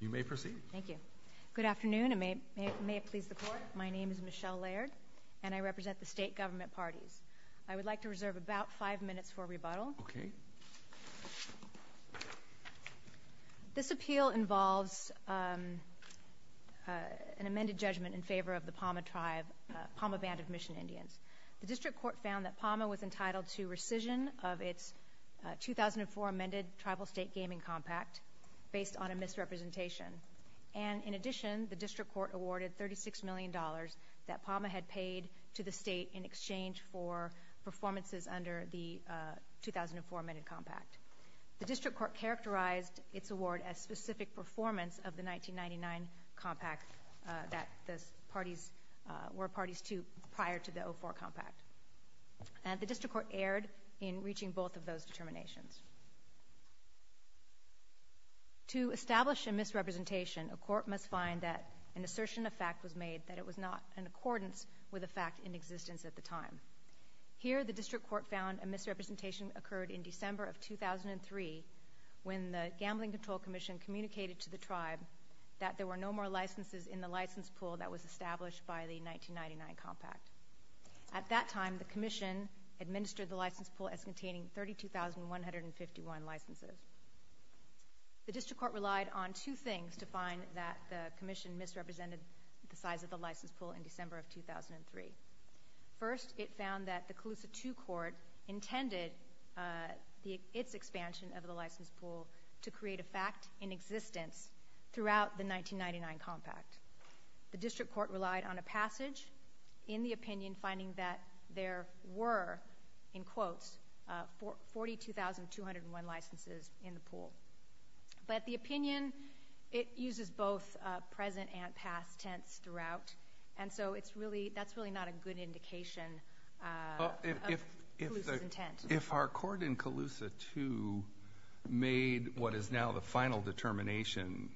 You may proceed. Thank you. Good afternoon, and may it please the Court. My name is Michelle Laird, and I represent the state government parties. I would like to reserve about five minutes for rebuttal. Okay. This appeal involves an amended judgment in favor of the Pauma Band of Mission Indians. The district court found that Pauma was entitled to rescission of its 2004 amended tribal state gaming compact based on a misrepresentation. And in addition, the district court awarded $36 million that Pauma had paid to the state in exchange for performances under the 2004 amended compact. The district court characterized its award as specific performance of the 1999 compact that the parties were parties to prior to the 2004 compact. And the district court erred in reaching both of those determinations. To establish a misrepresentation, a court must find that an assertion of fact was made that it was not in accordance with a fact in existence at the time. Here, the district court found a misrepresentation occurred in December of 2003 when the gambling control commission communicated to the tribe that there were no more licenses in the license pool that was established by the 1999 compact. At that time, the commission administered the license pool as containing 32,151 licenses. The district court relied on two things to find that the commission misrepresented the size of the license pool in December of 2003. First, it found that the Colusa II court intended its expansion of the license pool to create a fact in existence throughout the 1999 compact. The district court relied on a passage in the opinion finding that there were, in quotes, 42,201 licenses in the pool. But the opinion, it uses both present and past tense throughout. And so that's really not a good indication of Colusa's intent. made what is now the final determination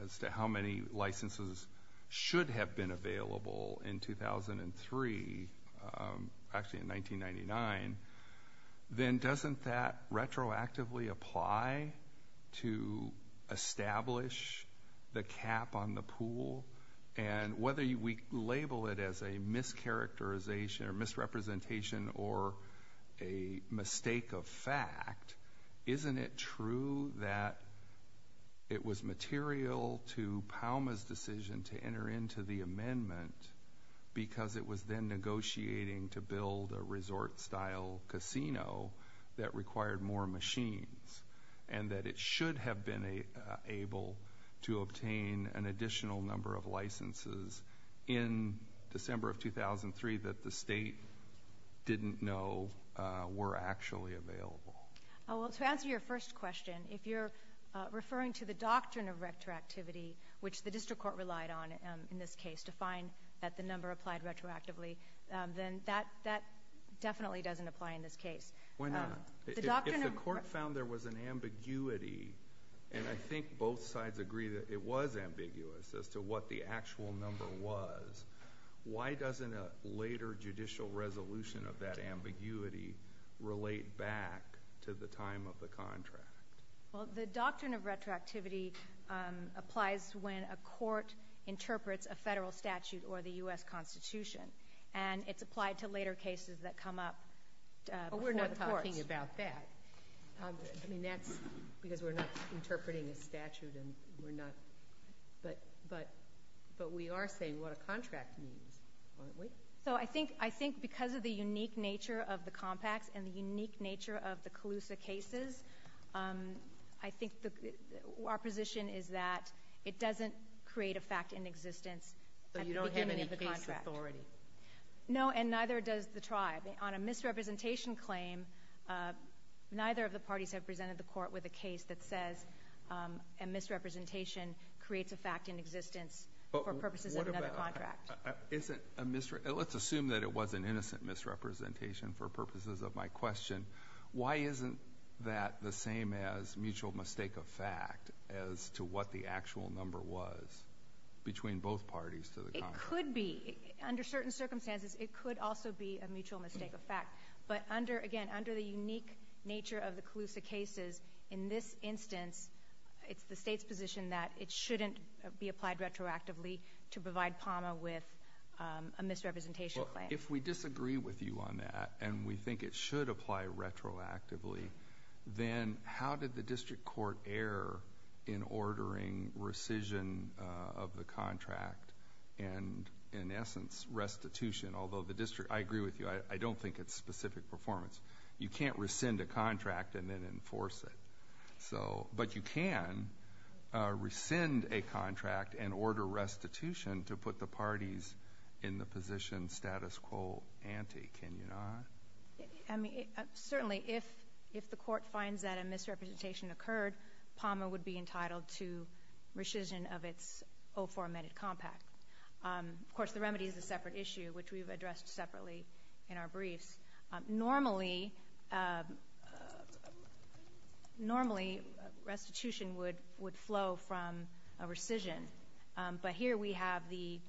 as to how many licenses should have been available in 2003, actually in 1999. Then doesn't that retroactively apply to establish the cap on the pool? And whether we label it as a mischaracterization or misrepresentation or a mistake of fact, isn't it true that it was material to Palma's decision to enter into the amendment because it was then negotiating to build a resort-style casino that required more machines? And that it should have been able to obtain an additional number of licenses in December of 2003 that the state didn't know were actually available? Well, to answer your first question, if you're referring to the doctrine of retroactivity, which the district court relied on in this case to find that the number applied retroactively, then that definitely doesn't apply in this case. Why not? If the court found there was an ambiguity, and I think both sides agree that it was ambiguous as to what the actual number was, why doesn't a later judicial resolution of that ambiguity relate back to the time of the contract? Well, the doctrine of retroactivity applies when a court interprets a federal statute or the U.S. Constitution, and it's applied to later cases that come up before the courts. Well, you're talking about that. I mean, that's because we're not interpreting a statute, and we're not. But we are saying what a contract means, aren't we? So I think because of the unique nature of the compacts and the unique nature of the Calusa cases, I think our position is that it doesn't create a fact in existence at the beginning of the contract. So you don't have any case authority? No, and neither does the tribe. On a misrepresentation claim, neither of the parties have presented the court with a case that says a misrepresentation creates a fact in existence for purposes of another contract. Let's assume that it was an innocent misrepresentation for purposes of my question. Why isn't that the same as mutual mistake of fact as to what the actual number was between both parties to the contract? It could be. Under certain circumstances, it could also be a mutual mistake of fact. But again, under the unique nature of the Calusa cases, in this instance, it's the State's position that it shouldn't be applied retroactively to provide PAMA with a misrepresentation claim. Well, if we disagree with you on that and we think it should apply retroactively, then how did the district court err in ordering rescission of the contract and, in essence, restitution? Although I agree with you, I don't think it's specific performance. You can't rescind a contract and then enforce it. But you can rescind a contract and order restitution to put the parties in the position status quo ante, can you not? Certainly, if the court finds that a misrepresentation occurred, PAMA would be entitled to rescission of its 0-4 amended compact. Of course, the remedy is a separate issue, which we've addressed separately in our briefs. Normally, restitution would flow from a rescission. But here we have the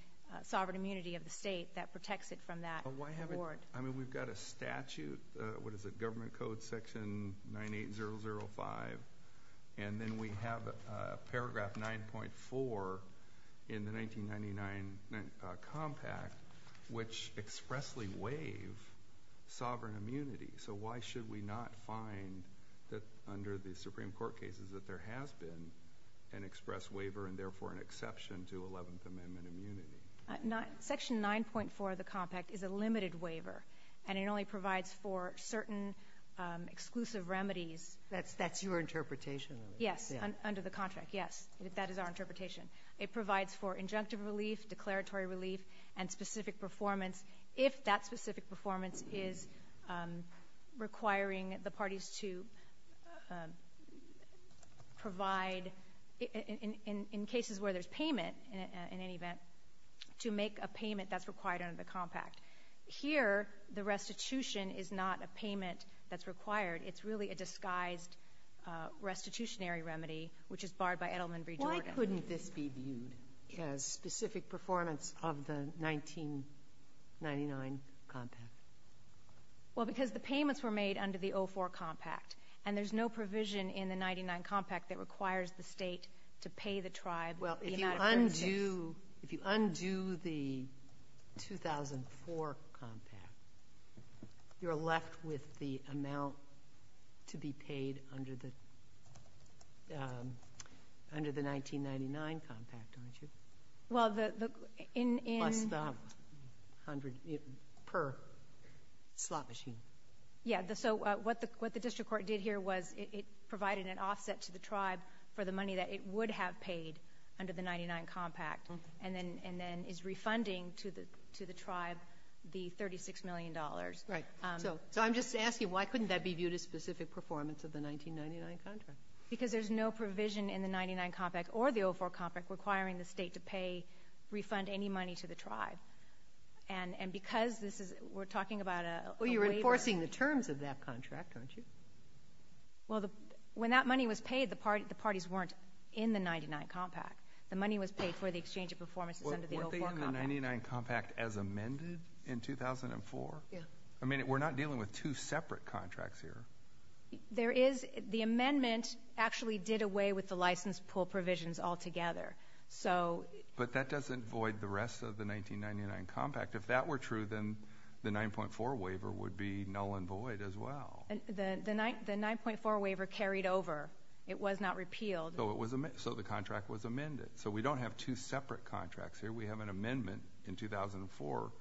sovereign immunity of the State that protects it from that reward. I mean, we've got a statute, what is it, government code section 98005. And then we have paragraph 9.4 in the 1999 compact, which expressly waive sovereign immunity. So why should we not find that under the Supreme Court cases that there has been an express waiver, and therefore an exception to 11th Amendment immunity? Section 9.4 of the compact is a limited waiver, and it only provides for certain exclusive remedies. That's your interpretation? Yes, under the contract, yes. That is our interpretation. It provides for injunctive relief, declaratory relief, and specific performance. If that specific performance is requiring the parties to provide, in cases where there's payment in any event, to make a payment that's required under the compact. Here, the restitution is not a payment that's required. It's really a disguised restitutionary remedy, which is barred by Edelman v. Jordan. Why couldn't this be viewed as specific performance of the 1999 compact? Well, because the payments were made under the 04 compact, and there's no provision in the 99 compact that requires the state to pay the tribe. Well, if you undo the 2004 compact, you're left with the amount to be paid under the 1999 compact, aren't you? Well, the... Plus the $100 per slot machine. Yeah, so what the district court did here was it provided an offset to the tribe for the money that it would have paid under the 99 compact, and then is refunding to the tribe the $36 million. Right. So I'm just asking, why couldn't that be viewed as specific performance of the 1999 contract? Because there's no provision in the 99 compact or the 04 compact requiring the state to pay, refund any money to the tribe. And because this is... we're talking about a waiver. Well, you're enforcing the terms of that contract, aren't you? Well, when that money was paid, the parties weren't in the 99 compact. The money was paid for the exchange of performances under the 04 compact. Weren't they in the 99 compact as amended in 2004? Yeah. I mean, we're not dealing with two separate contracts here. There is. The amendment actually did away with the license pull provisions altogether. But that doesn't void the rest of the 1999 compact. If that were true, then the 9.4 waiver would be null and void as well. The 9.4 waiver carried over. It was not repealed. So the contract was amended. So we don't have two separate contracts here. We have an amendment in 2004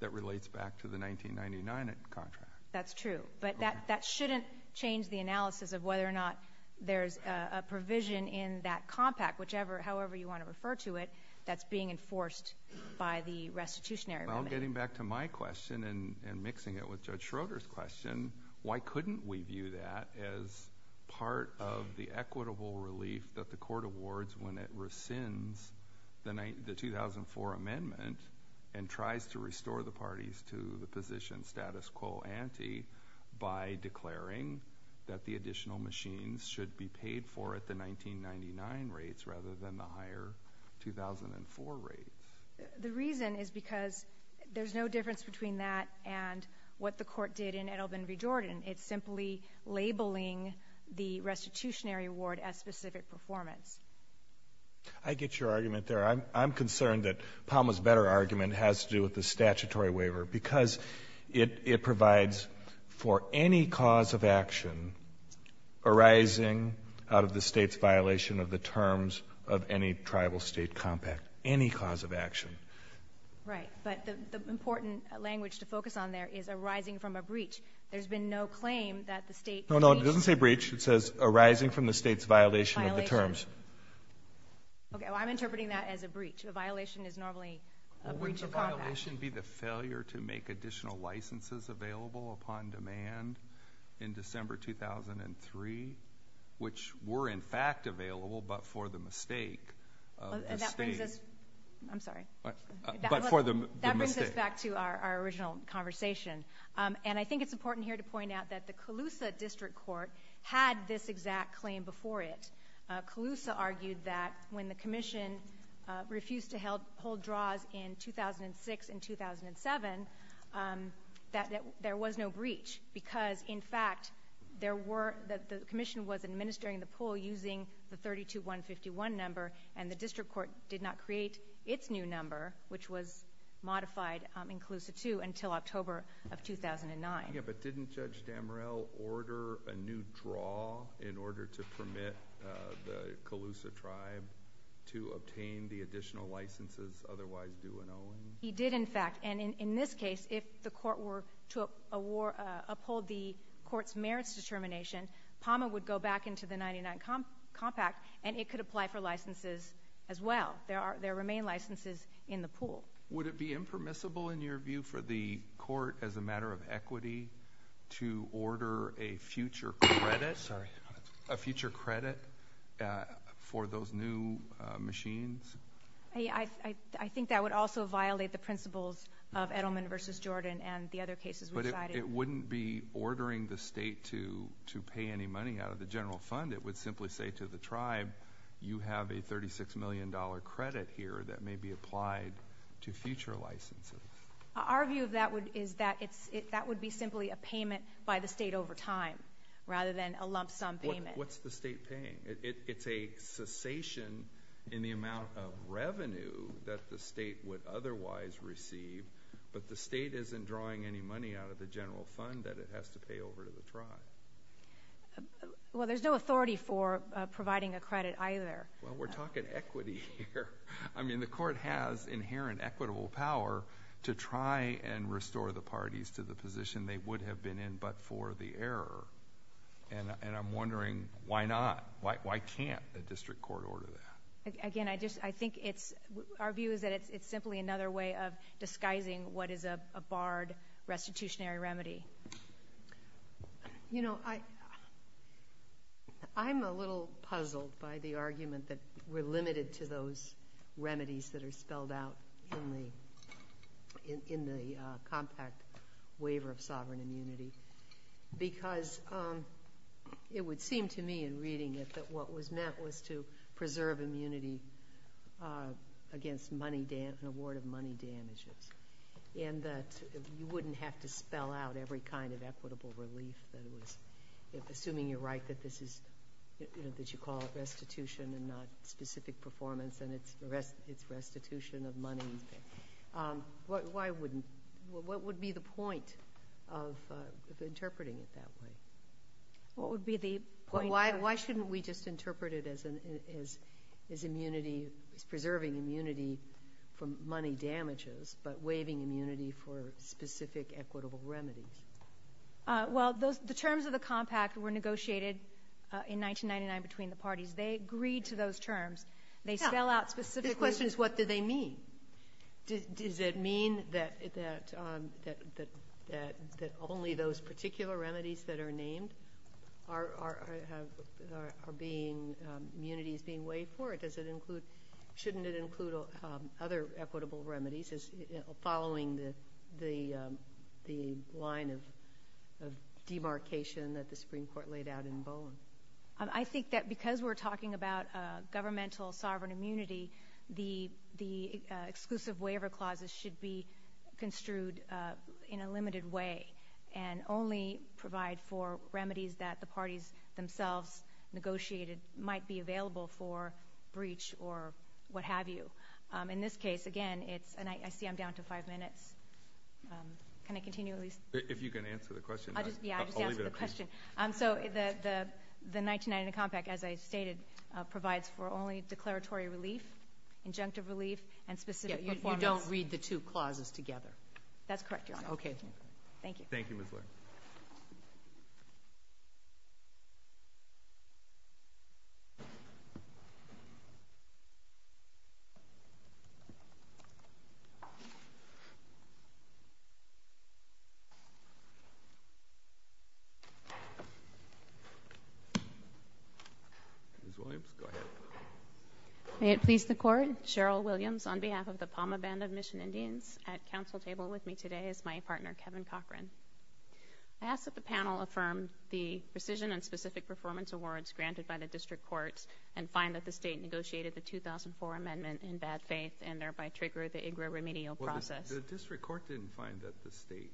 that relates back to the 1999 contract. That's true. But that shouldn't change the analysis of whether or not there's a provision in that compact, however you want to refer to it, that's being enforced by the restitutionary remedy. Now getting back to my question and mixing it with Judge Schroeder's question, why couldn't we view that as part of the equitable relief that the court awards when it rescinds the 2004 amendment and tries to restore the parties to the position status quo ante by declaring that the additional machines should be paid for at the 1999 rates rather than the higher 2004 rates? The reason is because there's no difference between that and what the court did in Edelman v. Jordan. It's simply labeling the restitutionary award as specific performance. I get your argument there. I'm concerned that Palma's better argument has to do with the statutory waiver because it provides for any cause of action arising out of the State's violation of the terms of any tribal state compact, any cause of action. Right, but the important language to focus on there is arising from a breach. There's been no claim that the State breached. No, no, it doesn't say breach. It says arising from the State's violation of the terms. Okay, well, I'm interpreting that as a breach. A violation is normally a breach of compact. Wouldn't the violation be the failure to make additional licenses available upon demand in December 2003, which were in fact available but for the mistake of the State? That brings us back to our original conversation, and I think it's important here to point out that the Colusa District Court had this exact claim before it. Colusa argued that when the Commission refused to hold draws in 2006 and 2007, that there was no breach because, in fact, the Commission was administering the pool using the 32151 number, and the District Court did not create its new number, which was modified in Colusa II until October of 2009. Yeah, but didn't Judge Damorell order a new draw in order to permit the Colusa tribe to obtain the additional licenses otherwise due and owing? He did, in fact, and in this case, if the court were to uphold the court's merits determination, PAMA would go back into the 99 Compact, and it could apply for licenses as well. There remain licenses in the pool. Would it be impermissible, in your view, for the court, as a matter of equity, to order a future credit for those new machines? I think that would also violate the principles of Edelman v. Jordan and the other cases we cited. But it wouldn't be ordering the state to pay any money out of the general fund. It would simply say to the tribe, you have a $36 million credit here that may be applied to future licenses. Our view of that is that that would be simply a payment by the state over time, rather than a lump sum payment. What's the state paying? It's a cessation in the amount of revenue that the state would otherwise receive, but the state isn't drawing any money out of the general fund that it has to pay over to the tribe. Well, there's no authority for providing a credit either. Well, we're talking equity here. I mean, the court has inherent equitable power to try and restore the parties to the position they would have been in, but for the error. And I'm wondering, why not? Why can't a district court order that? Again, I think our view is that it's simply another way of disguising what is a barred restitutionary remedy. You know, I'm a little puzzled by the argument that we're limited to those remedies that are spelled out in the compact waiver of sovereign immunity because it would seem to me in reading it that what was meant was to preserve immunity against an award of money damages and that you wouldn't have to spell out every kind of equitable relief. Assuming you're right that you call it restitution and not specific performance, and it's restitution of money, what would be the point of interpreting it that way? What would be the point? Why shouldn't we just interpret it as preserving immunity from money damages but waiving immunity for specific equitable remedies? Well, the terms of the compact were negotiated in 1999 between the parties. They agreed to those terms. They spell out specifically. The question is, what do they mean? Does it mean that only those particular remedies that are named are immunities being waived for? Shouldn't it include other equitable remedies following the line of demarcation that the Supreme Court laid out in Bowen? I think that because we're talking about governmental sovereign immunity, the exclusive waiver clauses should be construed in a limited way and only provide for remedies that the parties themselves negotiated might be available for breach or what have you. In this case, again, it's—and I see I'm down to five minutes. Can I continue, Elise? If you can answer the question. Yeah, I'll just answer the question. So the 1990 compact, as I stated, provides for only declaratory relief, injunctive relief, and specific performance. Yeah, you don't read the two clauses together. That's correct, Your Honor. Okay. Thank you. Thank you, Ms. Laird. Ms. Williams, go ahead. May it please the Court, Cheryl Williams on behalf of the PAMA Band of Mission Indians. At council table with me today is my partner, Kevin Cochran. I ask that the panel affirm the precision and specific performance awards granted by the district courts and find that the state negotiated the 2004 amendment in bad faith and thereby triggered the IGRA remedial process. Well, the district court didn't find that the state—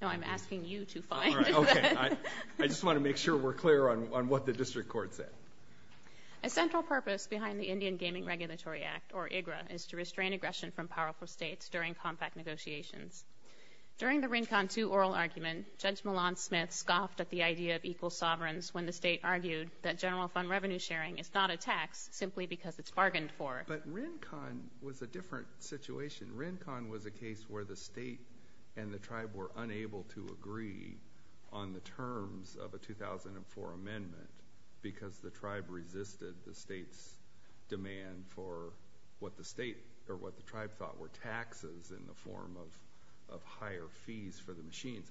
No, I'm asking you to find it. All right, okay. I just want to make sure we're clear on what the district court said. A central purpose behind the Indian Gaming Regulatory Act, or IGRA, is to restrain aggression from powerful states during compact negotiations. During the RINCON 2 oral argument, Judge Milan Smith scoffed at the idea of equal sovereigns when the state argued that general fund revenue sharing is not a tax simply because it's bargained for. But RINCON was a different situation. RINCON was a case where the state and the tribe were unable to agree on the terms of a 2004 amendment because the tribe resisted the state's demand for what the tribe thought were taxes in the form of higher fees for the machines.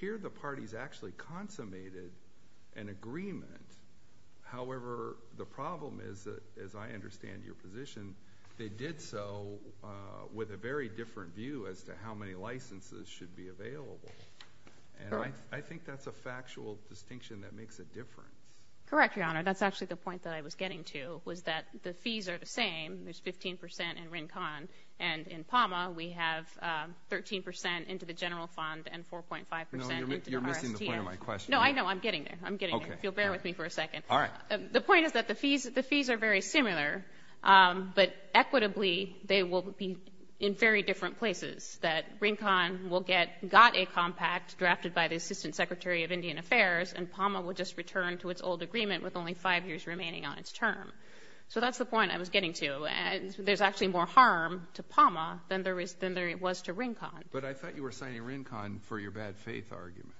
Here the parties actually consummated an agreement. However, the problem is, as I understand your position, they did so with a very different view as to how many licenses should be available. And I think that's a factual distinction that makes a difference. Correct, Your Honor. That's actually the point that I was getting to, was that the fees are the same. There's 15% in RINCON. And in PAMA, we have 13% into the general fund and 4.5% into the RSTN. No, you're missing the point of my question. No, I know. I'm getting there. If you'll bear with me for a second. All right. The point is that the fees are very similar, but equitably they will be in very different places, that RINCON will get a compact drafted by the Assistant Secretary of Indian Affairs and PAMA will just return to its old agreement with only five years remaining on its term. So that's the point I was getting to. There's actually more harm to PAMA than there was to RINCON. But I thought you were signing RINCON for your bad faith argument.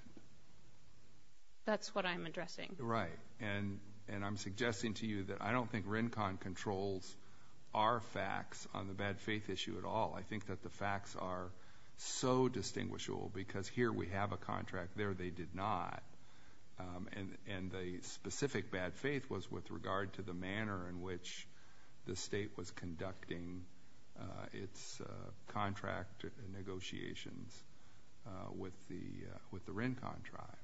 That's what I'm addressing. Right. And I'm suggesting to you that I don't think RINCON controls our facts on the bad faith issue at all. I think that the facts are so distinguishable because here we have a contract, there they did not. And the specific bad faith was with regard to the manner in which the state was conducting its contract negotiations with the RINCON tribe.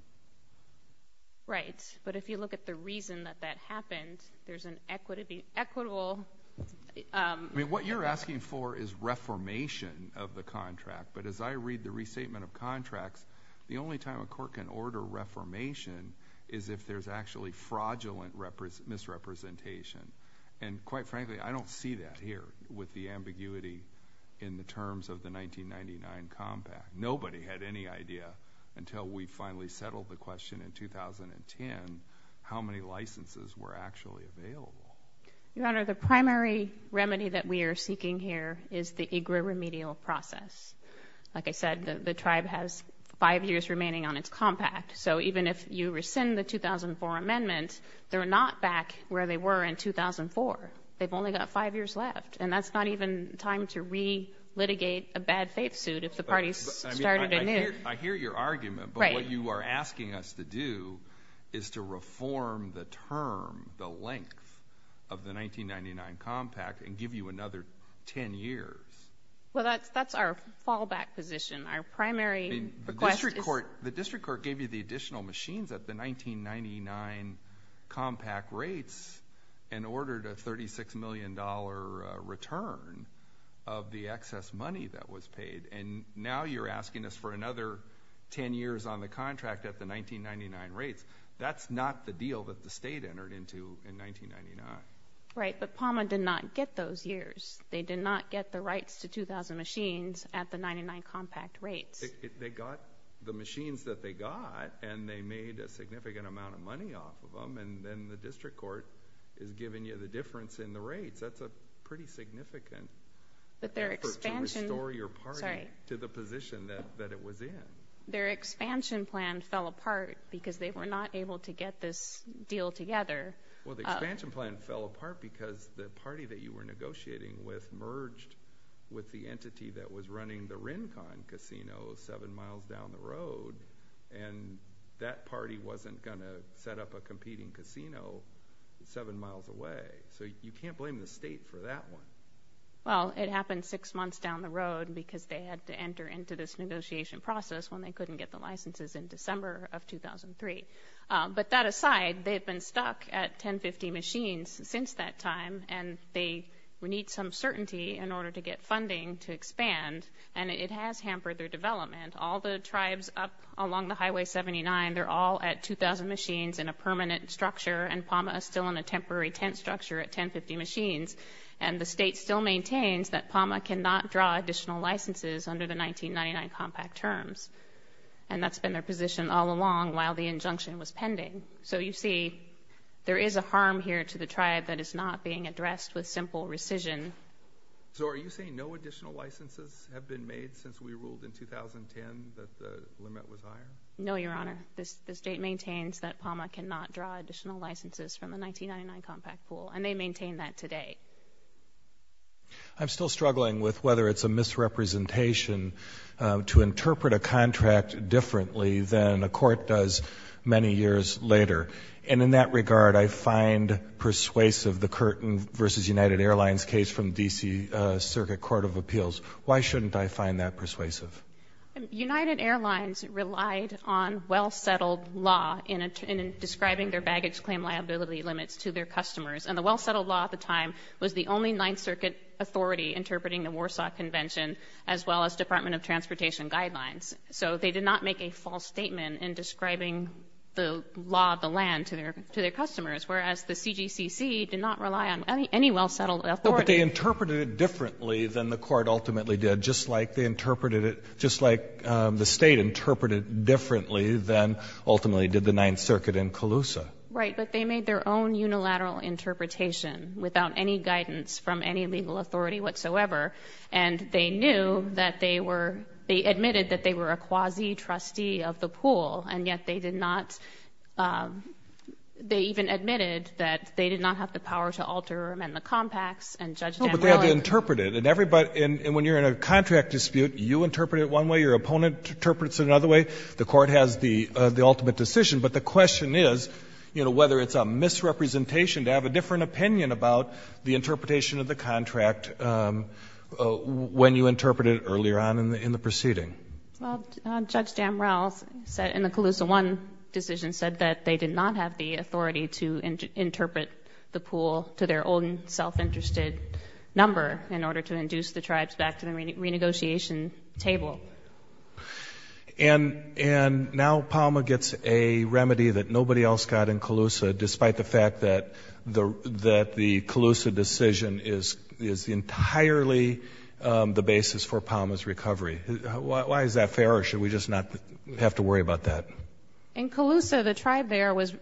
Right. But if you look at the reason that that happened, there's an equitable – I mean, what you're asking for is reformation of the contract. But as I read the restatement of contracts, the only time a court can order reformation is if there's actually fraudulent misrepresentation. And quite frankly, I don't see that here with the ambiguity in the terms of the 1999 compact. Nobody had any idea until we finally settled the question in 2010 how many licenses were actually available. Your Honor, the primary remedy that we are seeking here is the IGRA remedial process. Like I said, the tribe has five years remaining on its compact. So even if you rescind the 2004 amendment, they're not back where they were in 2004. They've only got five years left, and that's not even time to re-litigate a bad faith suit if the parties started anew. I hear your argument, but what you are asking us to do is to reform the term, the length, of the 1999 compact and give you another 10 years. Well, that's our fallback position. Our primary request is – The district court gave you the additional machines at the 1999 compact rates and ordered a $36 million return of the excess money that was paid. And now you're asking us for another 10 years on the contract at the 1999 rates. That's not the deal that the state entered into in 1999. Right, but PAMA did not get those years. They did not get the rights to 2,000 machines at the 1999 compact rates. They got the machines that they got, and they made a significant amount of money off of them, and then the district court is giving you the difference in the rates. That's a pretty significant effort to restore your party to the position that it was in. Their expansion plan fell apart because they were not able to get this deal together. Well, the expansion plan fell apart because the party that you were negotiating with merged with the entity that was running the Rincon Casino seven miles down the road, and that party wasn't going to set up a competing casino seven miles away. So you can't blame the state for that one. Well, it happened six months down the road because they had to enter into this negotiation process when they couldn't get the licenses in December of 2003. But that aside, they've been stuck at 1050 machines since that time, and they need some certainty in order to get funding to expand, and it has hampered their development. All the tribes up along the Highway 79, they're all at 2,000 machines in a permanent structure, and Palma is still in a temporary tent structure at 1050 machines, and the state still maintains that Palma cannot draw additional licenses under the 1999 compact terms, and that's been their position all along while the injunction was pending. So you see, there is a harm here to the tribe that is not being addressed with simple rescission. So are you saying no additional licenses have been made since we ruled in 2010 that the limit was higher? No, Your Honor. The state maintains that Palma cannot draw additional licenses from the 1999 compact pool, and they maintain that today. I'm still struggling with whether it's a misrepresentation to interpret a contract differently than a court does many years later. And in that regard, I find persuasive the Curtin v. United Airlines case from D.C. Circuit Court of Appeals. Why shouldn't I find that persuasive? United Airlines relied on well-settled law in describing their baggage claim liability limits to their customers. And the well-settled law at the time was the only Ninth Circuit authority interpreting the Warsaw Convention as well as Department of Transportation guidelines. So they did not make a false statement in describing the law of the land to their customers, whereas the CGCC did not rely on any well-settled authority. But they interpreted it differently than the court ultimately did, just like they interpreted it, just like the State interpreted it differently than ultimately did the Ninth Circuit in Colusa. Right. But they made their own unilateral interpretation without any guidance from any legal authority whatsoever, and they knew that they were, they admitted that they were a quasi-trustee of the pool, and yet they did not, they even admitted that they did not have the power to alter or amend the compacts. And Judge Damrelle. No, but they had to interpret it. And everybody, and when you're in a contract dispute, you interpret it one way, your opponent interprets it another way. The Court has the ultimate decision. But the question is, you know, whether it's a misrepresentation to have a different opinion about the interpretation of the contract when you interpret it earlier on in the proceeding. Well, Judge Damrelle said in the Colusa I decision said that they did not have the control to their own self-interested number in order to induce the tribes back to the renegotiation table. And now Palma gets a remedy that nobody else got in Colusa, despite the fact that the Colusa decision is entirely the basis for Palma's recovery. Why is that fair, or should we just not have to worry about that? In Colusa, the tribe there was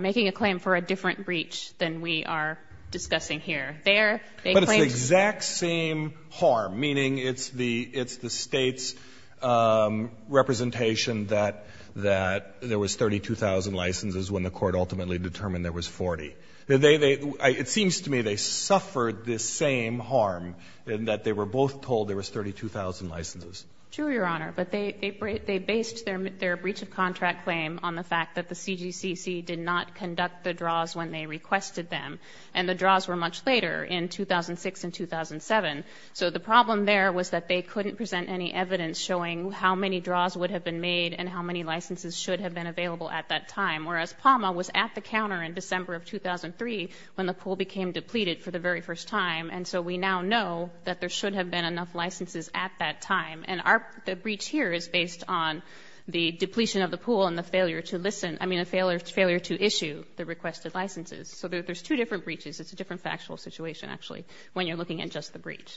making a claim for a different breach than we are discussing here. There, they claimed to have a different breach. But it's the exact same harm, meaning it's the State's representation that there was 32,000 licenses when the Court ultimately determined there was 40. It seems to me they suffered the same harm in that they were both told there was 32,000 licenses. True, Your Honor. But they based their breach of contract claim on the fact that the CGCC did not conduct the draws when they requested them. And the draws were much later, in 2006 and 2007. So the problem there was that they couldn't present any evidence showing how many draws would have been made and how many licenses should have been available at that time, whereas Palma was at the counter in December of 2003 when the pool became depleted for the very first time. And so we now know that there should have been enough licenses at that time. And the breach here is based on the depletion of the pool and the failure to listen, I mean the failure to issue the requested licenses. So there's two different breaches. It's a different factual situation, actually, when you're looking at just the breach.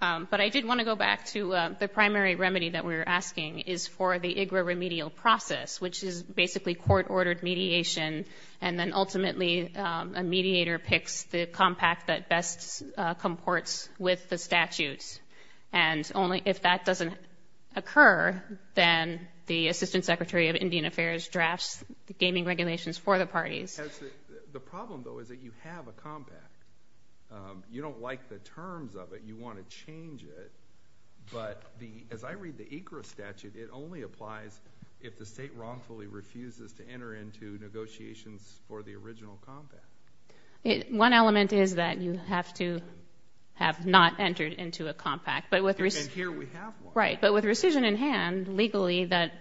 But I did want to go back to the primary remedy that we were asking is for the IGRA remedial process, which is basically court-ordered mediation, and then ultimately a mediator picks the compact that best comports with the statutes. And only if that doesn't occur, then the Assistant Secretary of Indian Affairs drafts the gaming regulations for the parties. The problem, though, is that you have a compact. You don't like the terms of it. You want to change it. But as I read the IGRA statute, it only applies if the state wrongfully refuses to enter into One element is that you have to have not entered into a compact. And here we have one. Right. But with rescission in hand, legally, that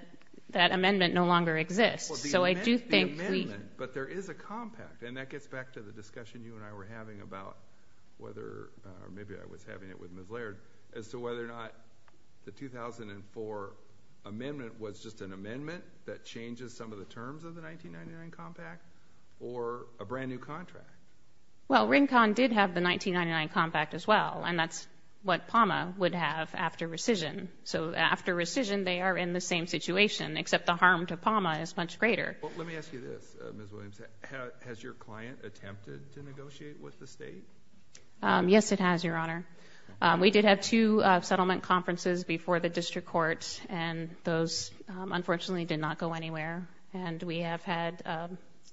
amendment no longer exists. Well, the amendment, but there is a compact. And that gets back to the discussion you and I were having about whether, or maybe I was having it with Ms. Laird, as to whether or not the 2004 amendment was just an amendment that changes some of the terms of the 1999 compact or a brand-new contract. Well, RINCON did have the 1999 compact as well, and that's what PAMA would have after rescission. So after rescission, they are in the same situation, except the harm to PAMA is much greater. Well, let me ask you this, Ms. Williams. Has your client attempted to negotiate with the state? Yes, it has, Your Honor. We did have two settlement conferences before the district court, and those, unfortunately, did not go anywhere. And we have had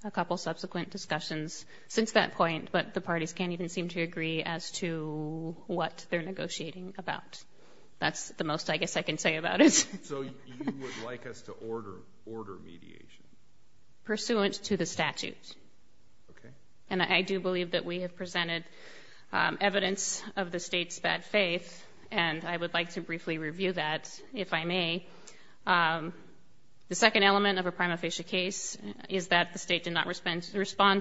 a couple subsequent discussions since that point, but the parties can't even seem to agree as to what they're negotiating about. That's the most, I guess, I can say about it. So you would like us to order mediation? Pursuant to the statute. Okay. And I do believe that we have presented evidence of the state's bad faith, and I would like to briefly review that, if I may. The second element of a prima facie case is that the state did not respond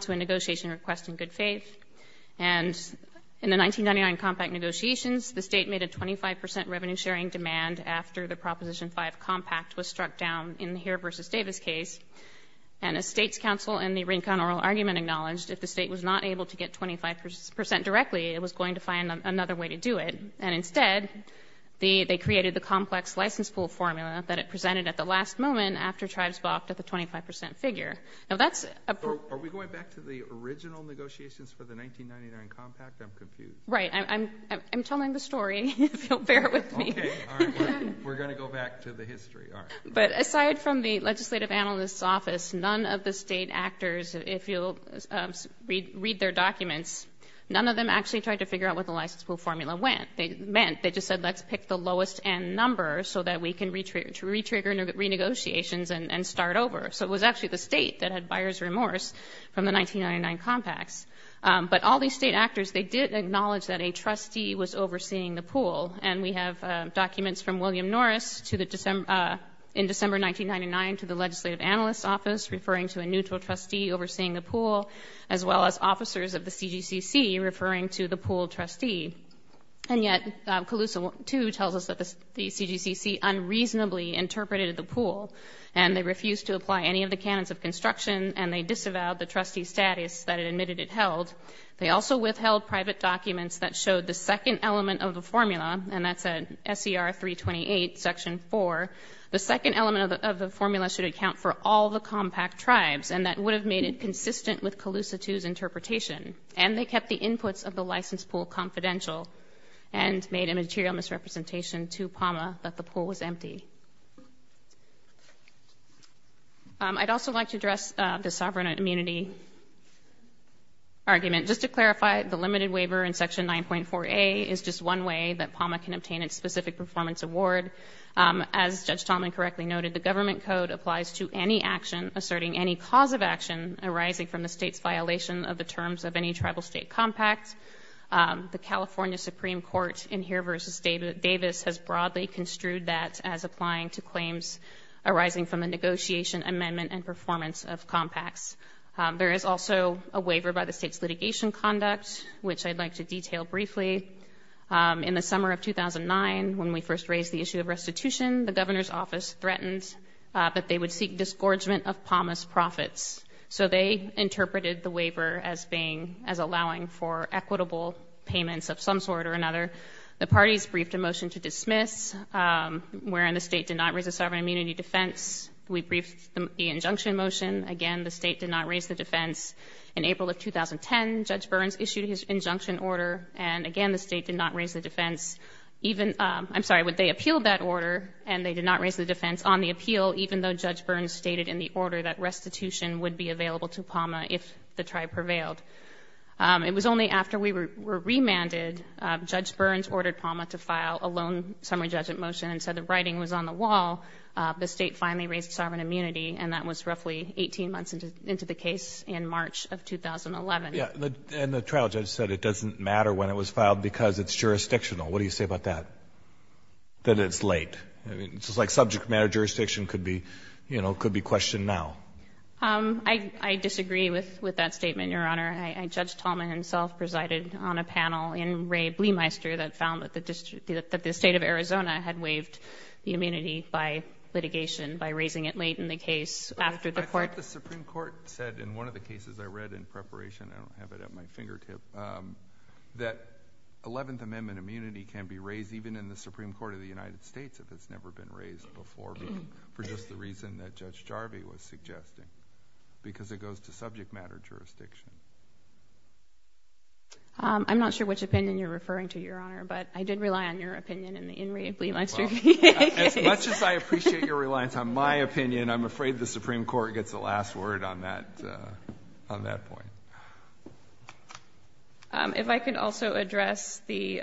to a negotiation request in good faith. And in the 1999 compact negotiations, the state made a 25 percent revenue-sharing demand after the Proposition 5 compact was struck down in the Heer v. Davis case. And a state's counsel in the Rincon oral argument acknowledged if the state was not able to get 25 percent directly, it was going to find another way to do it. And instead, they created the complex license pool formula that it presented at the last moment after tribes balked at the 25 percent figure. Are we going back to the original negotiations for the 1999 compact? I'm confused. Right. I'm telling the story, if you'll bear with me. All right. We're going to go back to the history. All right. But aside from the Legislative Analyst's Office, none of the state actors, if you'll read their documents, none of them actually tried to figure out what the license pool formula meant. They just said, let's pick the lowest-end number so that we can re-trigger renegotiations and start over. So it was actually the state that had buyer's remorse from the 1999 compacts. But all these state actors, they did acknowledge that a trustee was overseeing the pool. And we have documents from William Norris in December 1999 to the Legislative Analyst's Office referring to a neutral trustee overseeing the pool, as well as officers of the CGCC referring to the pool trustee. And yet, Calusa 2 tells us that the CGCC unreasonably interpreted the pool, and they refused to apply any of the canons of construction, and they disavowed the trustee status that it admitted it held. They also withheld private documents that showed the second element of the formula, and that's at SCR 328, Section 4. The second element of the formula should account for all the compact tribes, and that would have made it consistent with Calusa 2's interpretation. And they kept the inputs of the license pool confidential and made a material misrepresentation to PAMA that the pool was empty. I'd also like to address the sovereign immunity argument. Just to clarify, the limited waiver in Section 9.4a is just one way that PAMA can obtain its specific performance award. As Judge Tallman correctly noted, the government code applies to any action asserting any cause of action arising from the state's violation of the terms of any tribal state compact. The California Supreme Court in here versus Davis has broadly construed that as applying to claims arising from the negotiation, amendment, and performance of compacts. There is also a waiver by the state's litigation conduct, which I'd like to detail briefly. In the summer of 2009, when we first raised the issue of restitution, the governor's office threatened that they would seek disgorgement of PAMA's profits. So they interpreted the waiver as being, as allowing for equitable payments of some sort or another. The parties briefed a motion to dismiss, wherein the state did not raise a sovereign immunity defense. We briefed the injunction motion. Again, the state did not raise the defense. In April of 2010, Judge Burns issued his injunction order, and again, the state did not raise the defense. Even, I'm sorry, they appealed that order, and they did not raise the defense on the appeal, even though Judge Burns stated in the order that restitution would be available to PAMA if the tribe prevailed. It was only after we were remanded, Judge Burns ordered PAMA to file a lone summary judgment motion and said the writing was on the wall. The state finally raised sovereign immunity, and that was roughly 18 months into the case in March of 2011. And the trial judge said it doesn't matter when it was filed because it's jurisdictional. What do you say about that? That it's late. I mean, it's just like subject matter jurisdiction could be, you know, could be questioned now. I disagree with that statement, Your Honor. Judge Tallman himself presided on a panel in Ray Bleemeister that found that the State of Arizona had waived the immunity by litigation, by raising it late in the case after the court... I thought the Supreme Court said in one of the cases I read in preparation, I don't have it at my fingertip, that Eleventh Amendment immunity can be raised even in the Supreme Court of the United States if it's never been raised before for just the reason that I'm suggesting, because it goes to subject matter jurisdiction. I'm not sure which opinion you're referring to, Your Honor, but I did rely on your opinion in Ray Bleemeister's case. As much as I appreciate your reliance on my opinion, I'm afraid the Supreme Court gets the last word on that point. If I could also address the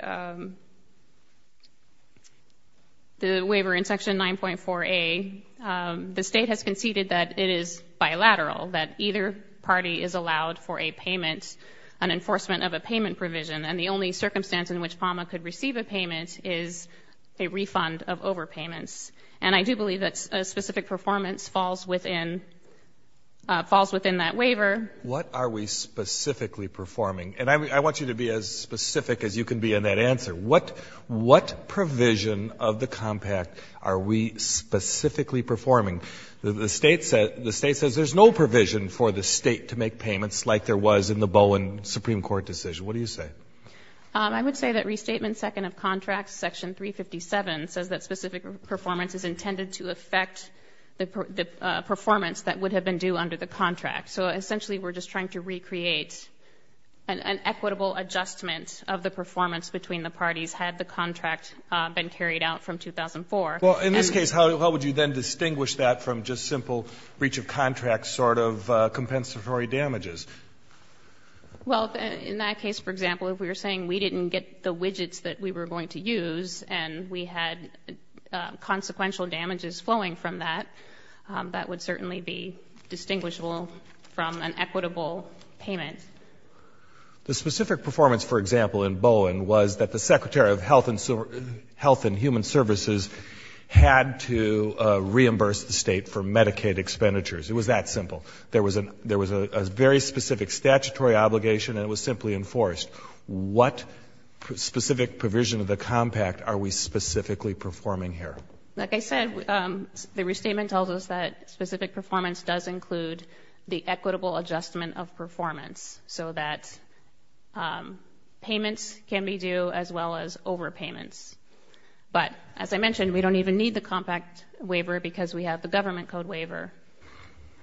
waiver in Section 9.4a. The State has conceded that it is bilateral, that either party is allowed for a payment, an enforcement of a payment provision, and the only circumstance in which PAMA could receive a payment is a refund of overpayments. And I do believe that a specific performance falls within that waiver. What are we specifically performing? And I want you to be as specific as you can be in that answer. What provision of the compact are we specifically performing? The State says there's no provision for the State to make payments like there was in the Bowen Supreme Court decision. What do you say? I would say that Restatement Second of Contracts, Section 357, says that specific performance is intended to affect the performance that would have been due under the contract. So essentially we're just trying to recreate an equitable adjustment of the performance between the parties had the contract been carried out from 2004. Well, in this case, how would you then distinguish that from just simple breach of contract sort of compensatory damages? Well, in that case, for example, if we were saying we didn't get the widgets that we were going to use and we had consequential damages flowing from that, that would certainly be distinguishable from an equitable payment. The specific performance, for example, in Bowen was that the Secretary of Health and Human Services had to reimburse the State for Medicaid expenditures. It was that simple. There was a very specific statutory obligation and it was simply enforced. What specific provision of the compact are we specifically performing here? Like I said, the Restatement tells us that specific performance does include the equitable adjustment of performance so that payments can be due as well as overpayments. But, as I mentioned, we don't even need the compact waiver because we have the government code waiver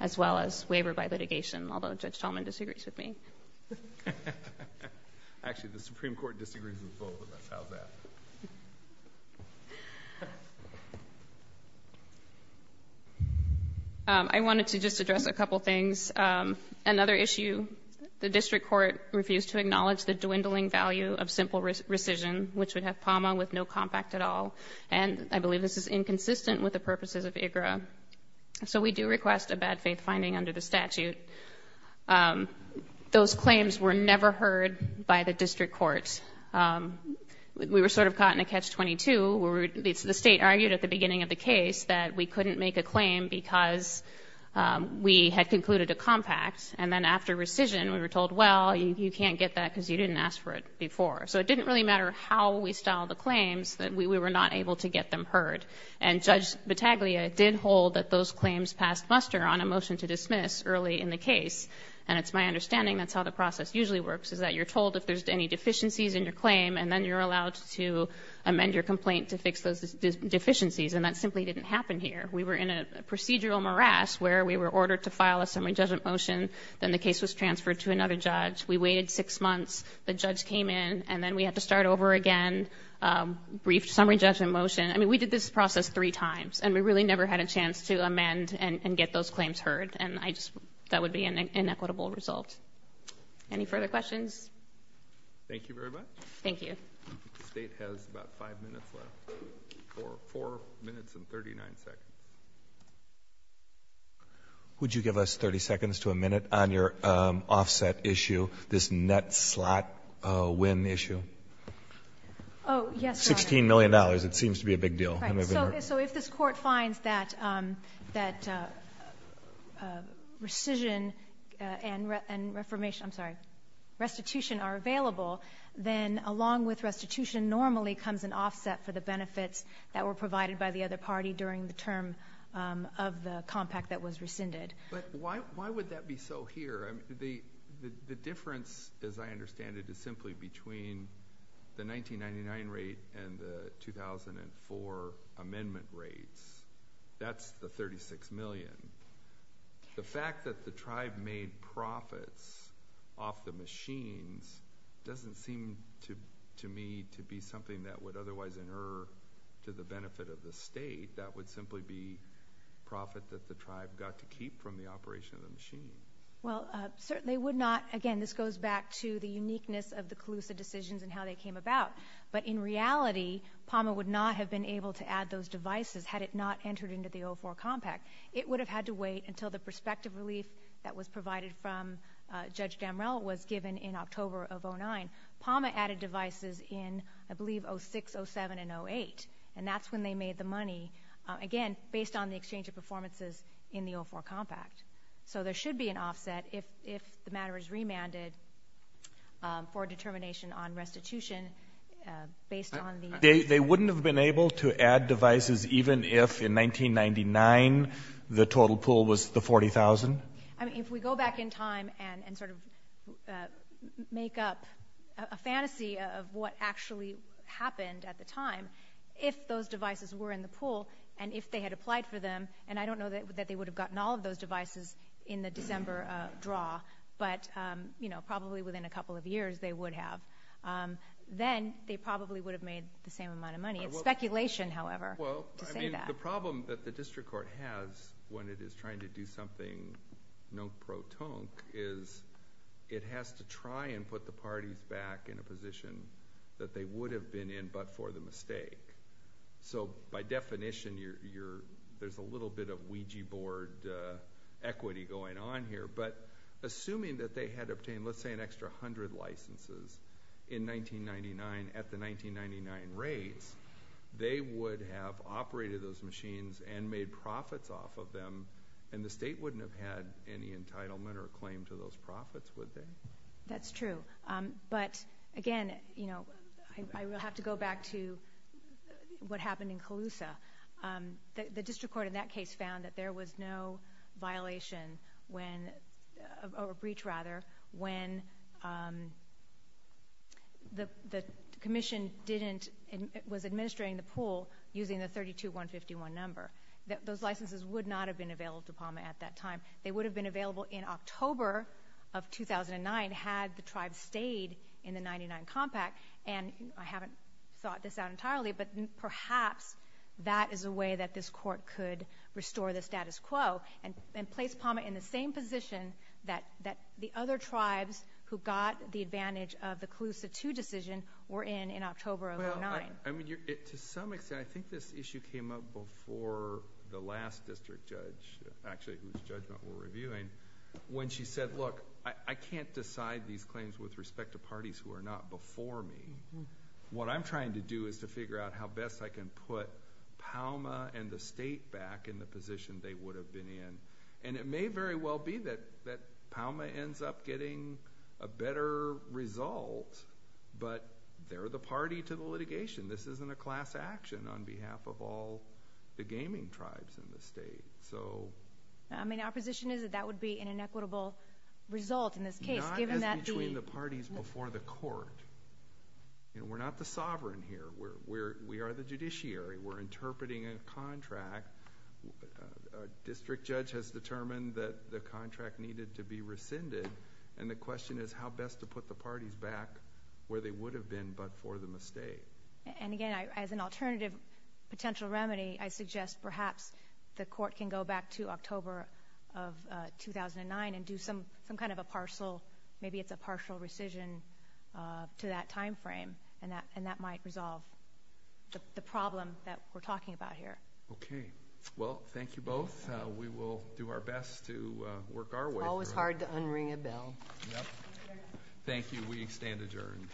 as well as waiver by litigation, although Judge Tallman disagrees with me. Actually, the Supreme Court disagrees with both of us. How's that? I wanted to just address a couple things. Another issue, the District Court refused to acknowledge the dwindling value of simple rescission, which would have PAMA with no compact at all. And I believe this is inconsistent with the purposes of IGRA. So we do request a bad faith finding under the statute. Those claims were never heard by the District Court. We were sort of caught in a catch-22 where the State argued at the beginning of the case that we couldn't make a claim because we had concluded a compact and then after rescission we were told, well, you can't get that because you didn't ask for it before. So it didn't really matter how we styled the claims that we were not able to get them heard. And Judge Battaglia did hold that those claims passed muster on a motion to dismiss early in the case. And it's my understanding that's how the process usually works is that you're allowed to make deficiencies in your claim and then you're allowed to amend your complaint to fix those deficiencies. And that simply didn't happen here. We were in a procedural morass where we were ordered to file a summary judgment motion. Then the case was transferred to another judge. We waited six months. The judge came in. And then we had to start over again, brief summary judgment motion. I mean, we did this process three times. And we really never had a chance to amend and get those claims heard. And that would be an inequitable result. Any further questions? Thank you very much. Thank you. The State has about five minutes left. Four minutes and 39 seconds. Would you give us 30 seconds to a minute on your offset issue, this net slot win issue? Oh, yes. $16 million. It seems to be a big deal. So if this court finds that rescission and reformation, I'm sorry, restitution are available, then along with restitution normally comes an offset for the benefits that were provided by the other party during the term of the compact that was rescinded. But why would that be so here? The difference, as I understand it, is simply between the 1999 rate and the 2004 amendment rates. That's the $36 million. The fact that the tribe made profits off the machines doesn't seem to me to be something that would otherwise inerr to the benefit of the State. That would simply be profit that the tribe got to keep from the operation of the machine. Well, certainly would not. Again, this goes back to the uniqueness of the Calusa decisions and how they came about. But in reality, PAMA would not have been able to add those devices had it not entered into the 04 compact. It would have had to wait until the prospective relief that was provided from Judge Damrell was given in October of 2009. PAMA added devices in, I believe, 06, 07, and 08. And that's when they made the money, again, based on the exchange of performances in the 04 compact. So there should be an offset if the matter is remanded for determination on the institution based on the ______. They wouldn't have been able to add devices even if in 1999 the total pool was the 40,000? I mean, if we go back in time and sort of make up a fantasy of what actually happened at the time, if those devices were in the pool and if they had applied for them, and I don't know that they would have gotten all of those devices in the December draw, but probably within a couple of years they would have, then they probably would have made the same amount of money. It's speculation, however, to say that. Well, I mean, the problem that the district court has when it is trying to do something non-protonque is it has to try and put the parties back in a position that they would have been in but for the mistake. So by definition, there's a little bit of Ouija board equity going on here. But assuming that they had obtained, let's say, an extra 100 licenses in 1999 at the 1999 rates, they would have operated those machines and made profits off of them, and the state wouldn't have had any entitlement or claim to those profits, would they? That's true. But, again, I have to go back to what happened in Colusa. The district court in that case found that there was no violation or breach, rather, when the commission was administrating the pool using the 32151 number. Those licenses would not have been available to Palmer at that time. They would have been available in October of 2009 had the tribe stayed in the 99 compact, and I haven't thought this out entirely, but perhaps that is a way that this court could restore the status quo and place Palmer in the same position that the other tribes who got the advantage of the Colusa II decision were in in October of 2009. Well, I mean, to some extent, I think this issue came up before the last district judge, actually, whose judgment we're reviewing, when she said, look, I can't decide these claims with respect to parties who are not before me. What I'm trying to do is to figure out how best I can put Palmer and the state back in the position they would have been in, and it may very well be that Palmer ends up getting a better result, but they're the party to the litigation. This isn't a class action on behalf of all the gaming tribes in the state. So... I mean, our position is that that would be an inequitable result in this case, given that the... Not as between the parties before the court. We're not the sovereign here. We are the judiciary. We're interpreting a contract. A district judge has determined that the contract needed to be rescinded, and the And again, as an alternative potential remedy, I suggest perhaps the court can go back to October of 2009 and do some kind of a partial... Maybe it's a partial rescission to that time frame, and that might resolve the problem that we're talking about here. Okay. Well, thank you both. We will do our best to work our way through. Always hard to unring a bell. Thank you. We stand adjourned.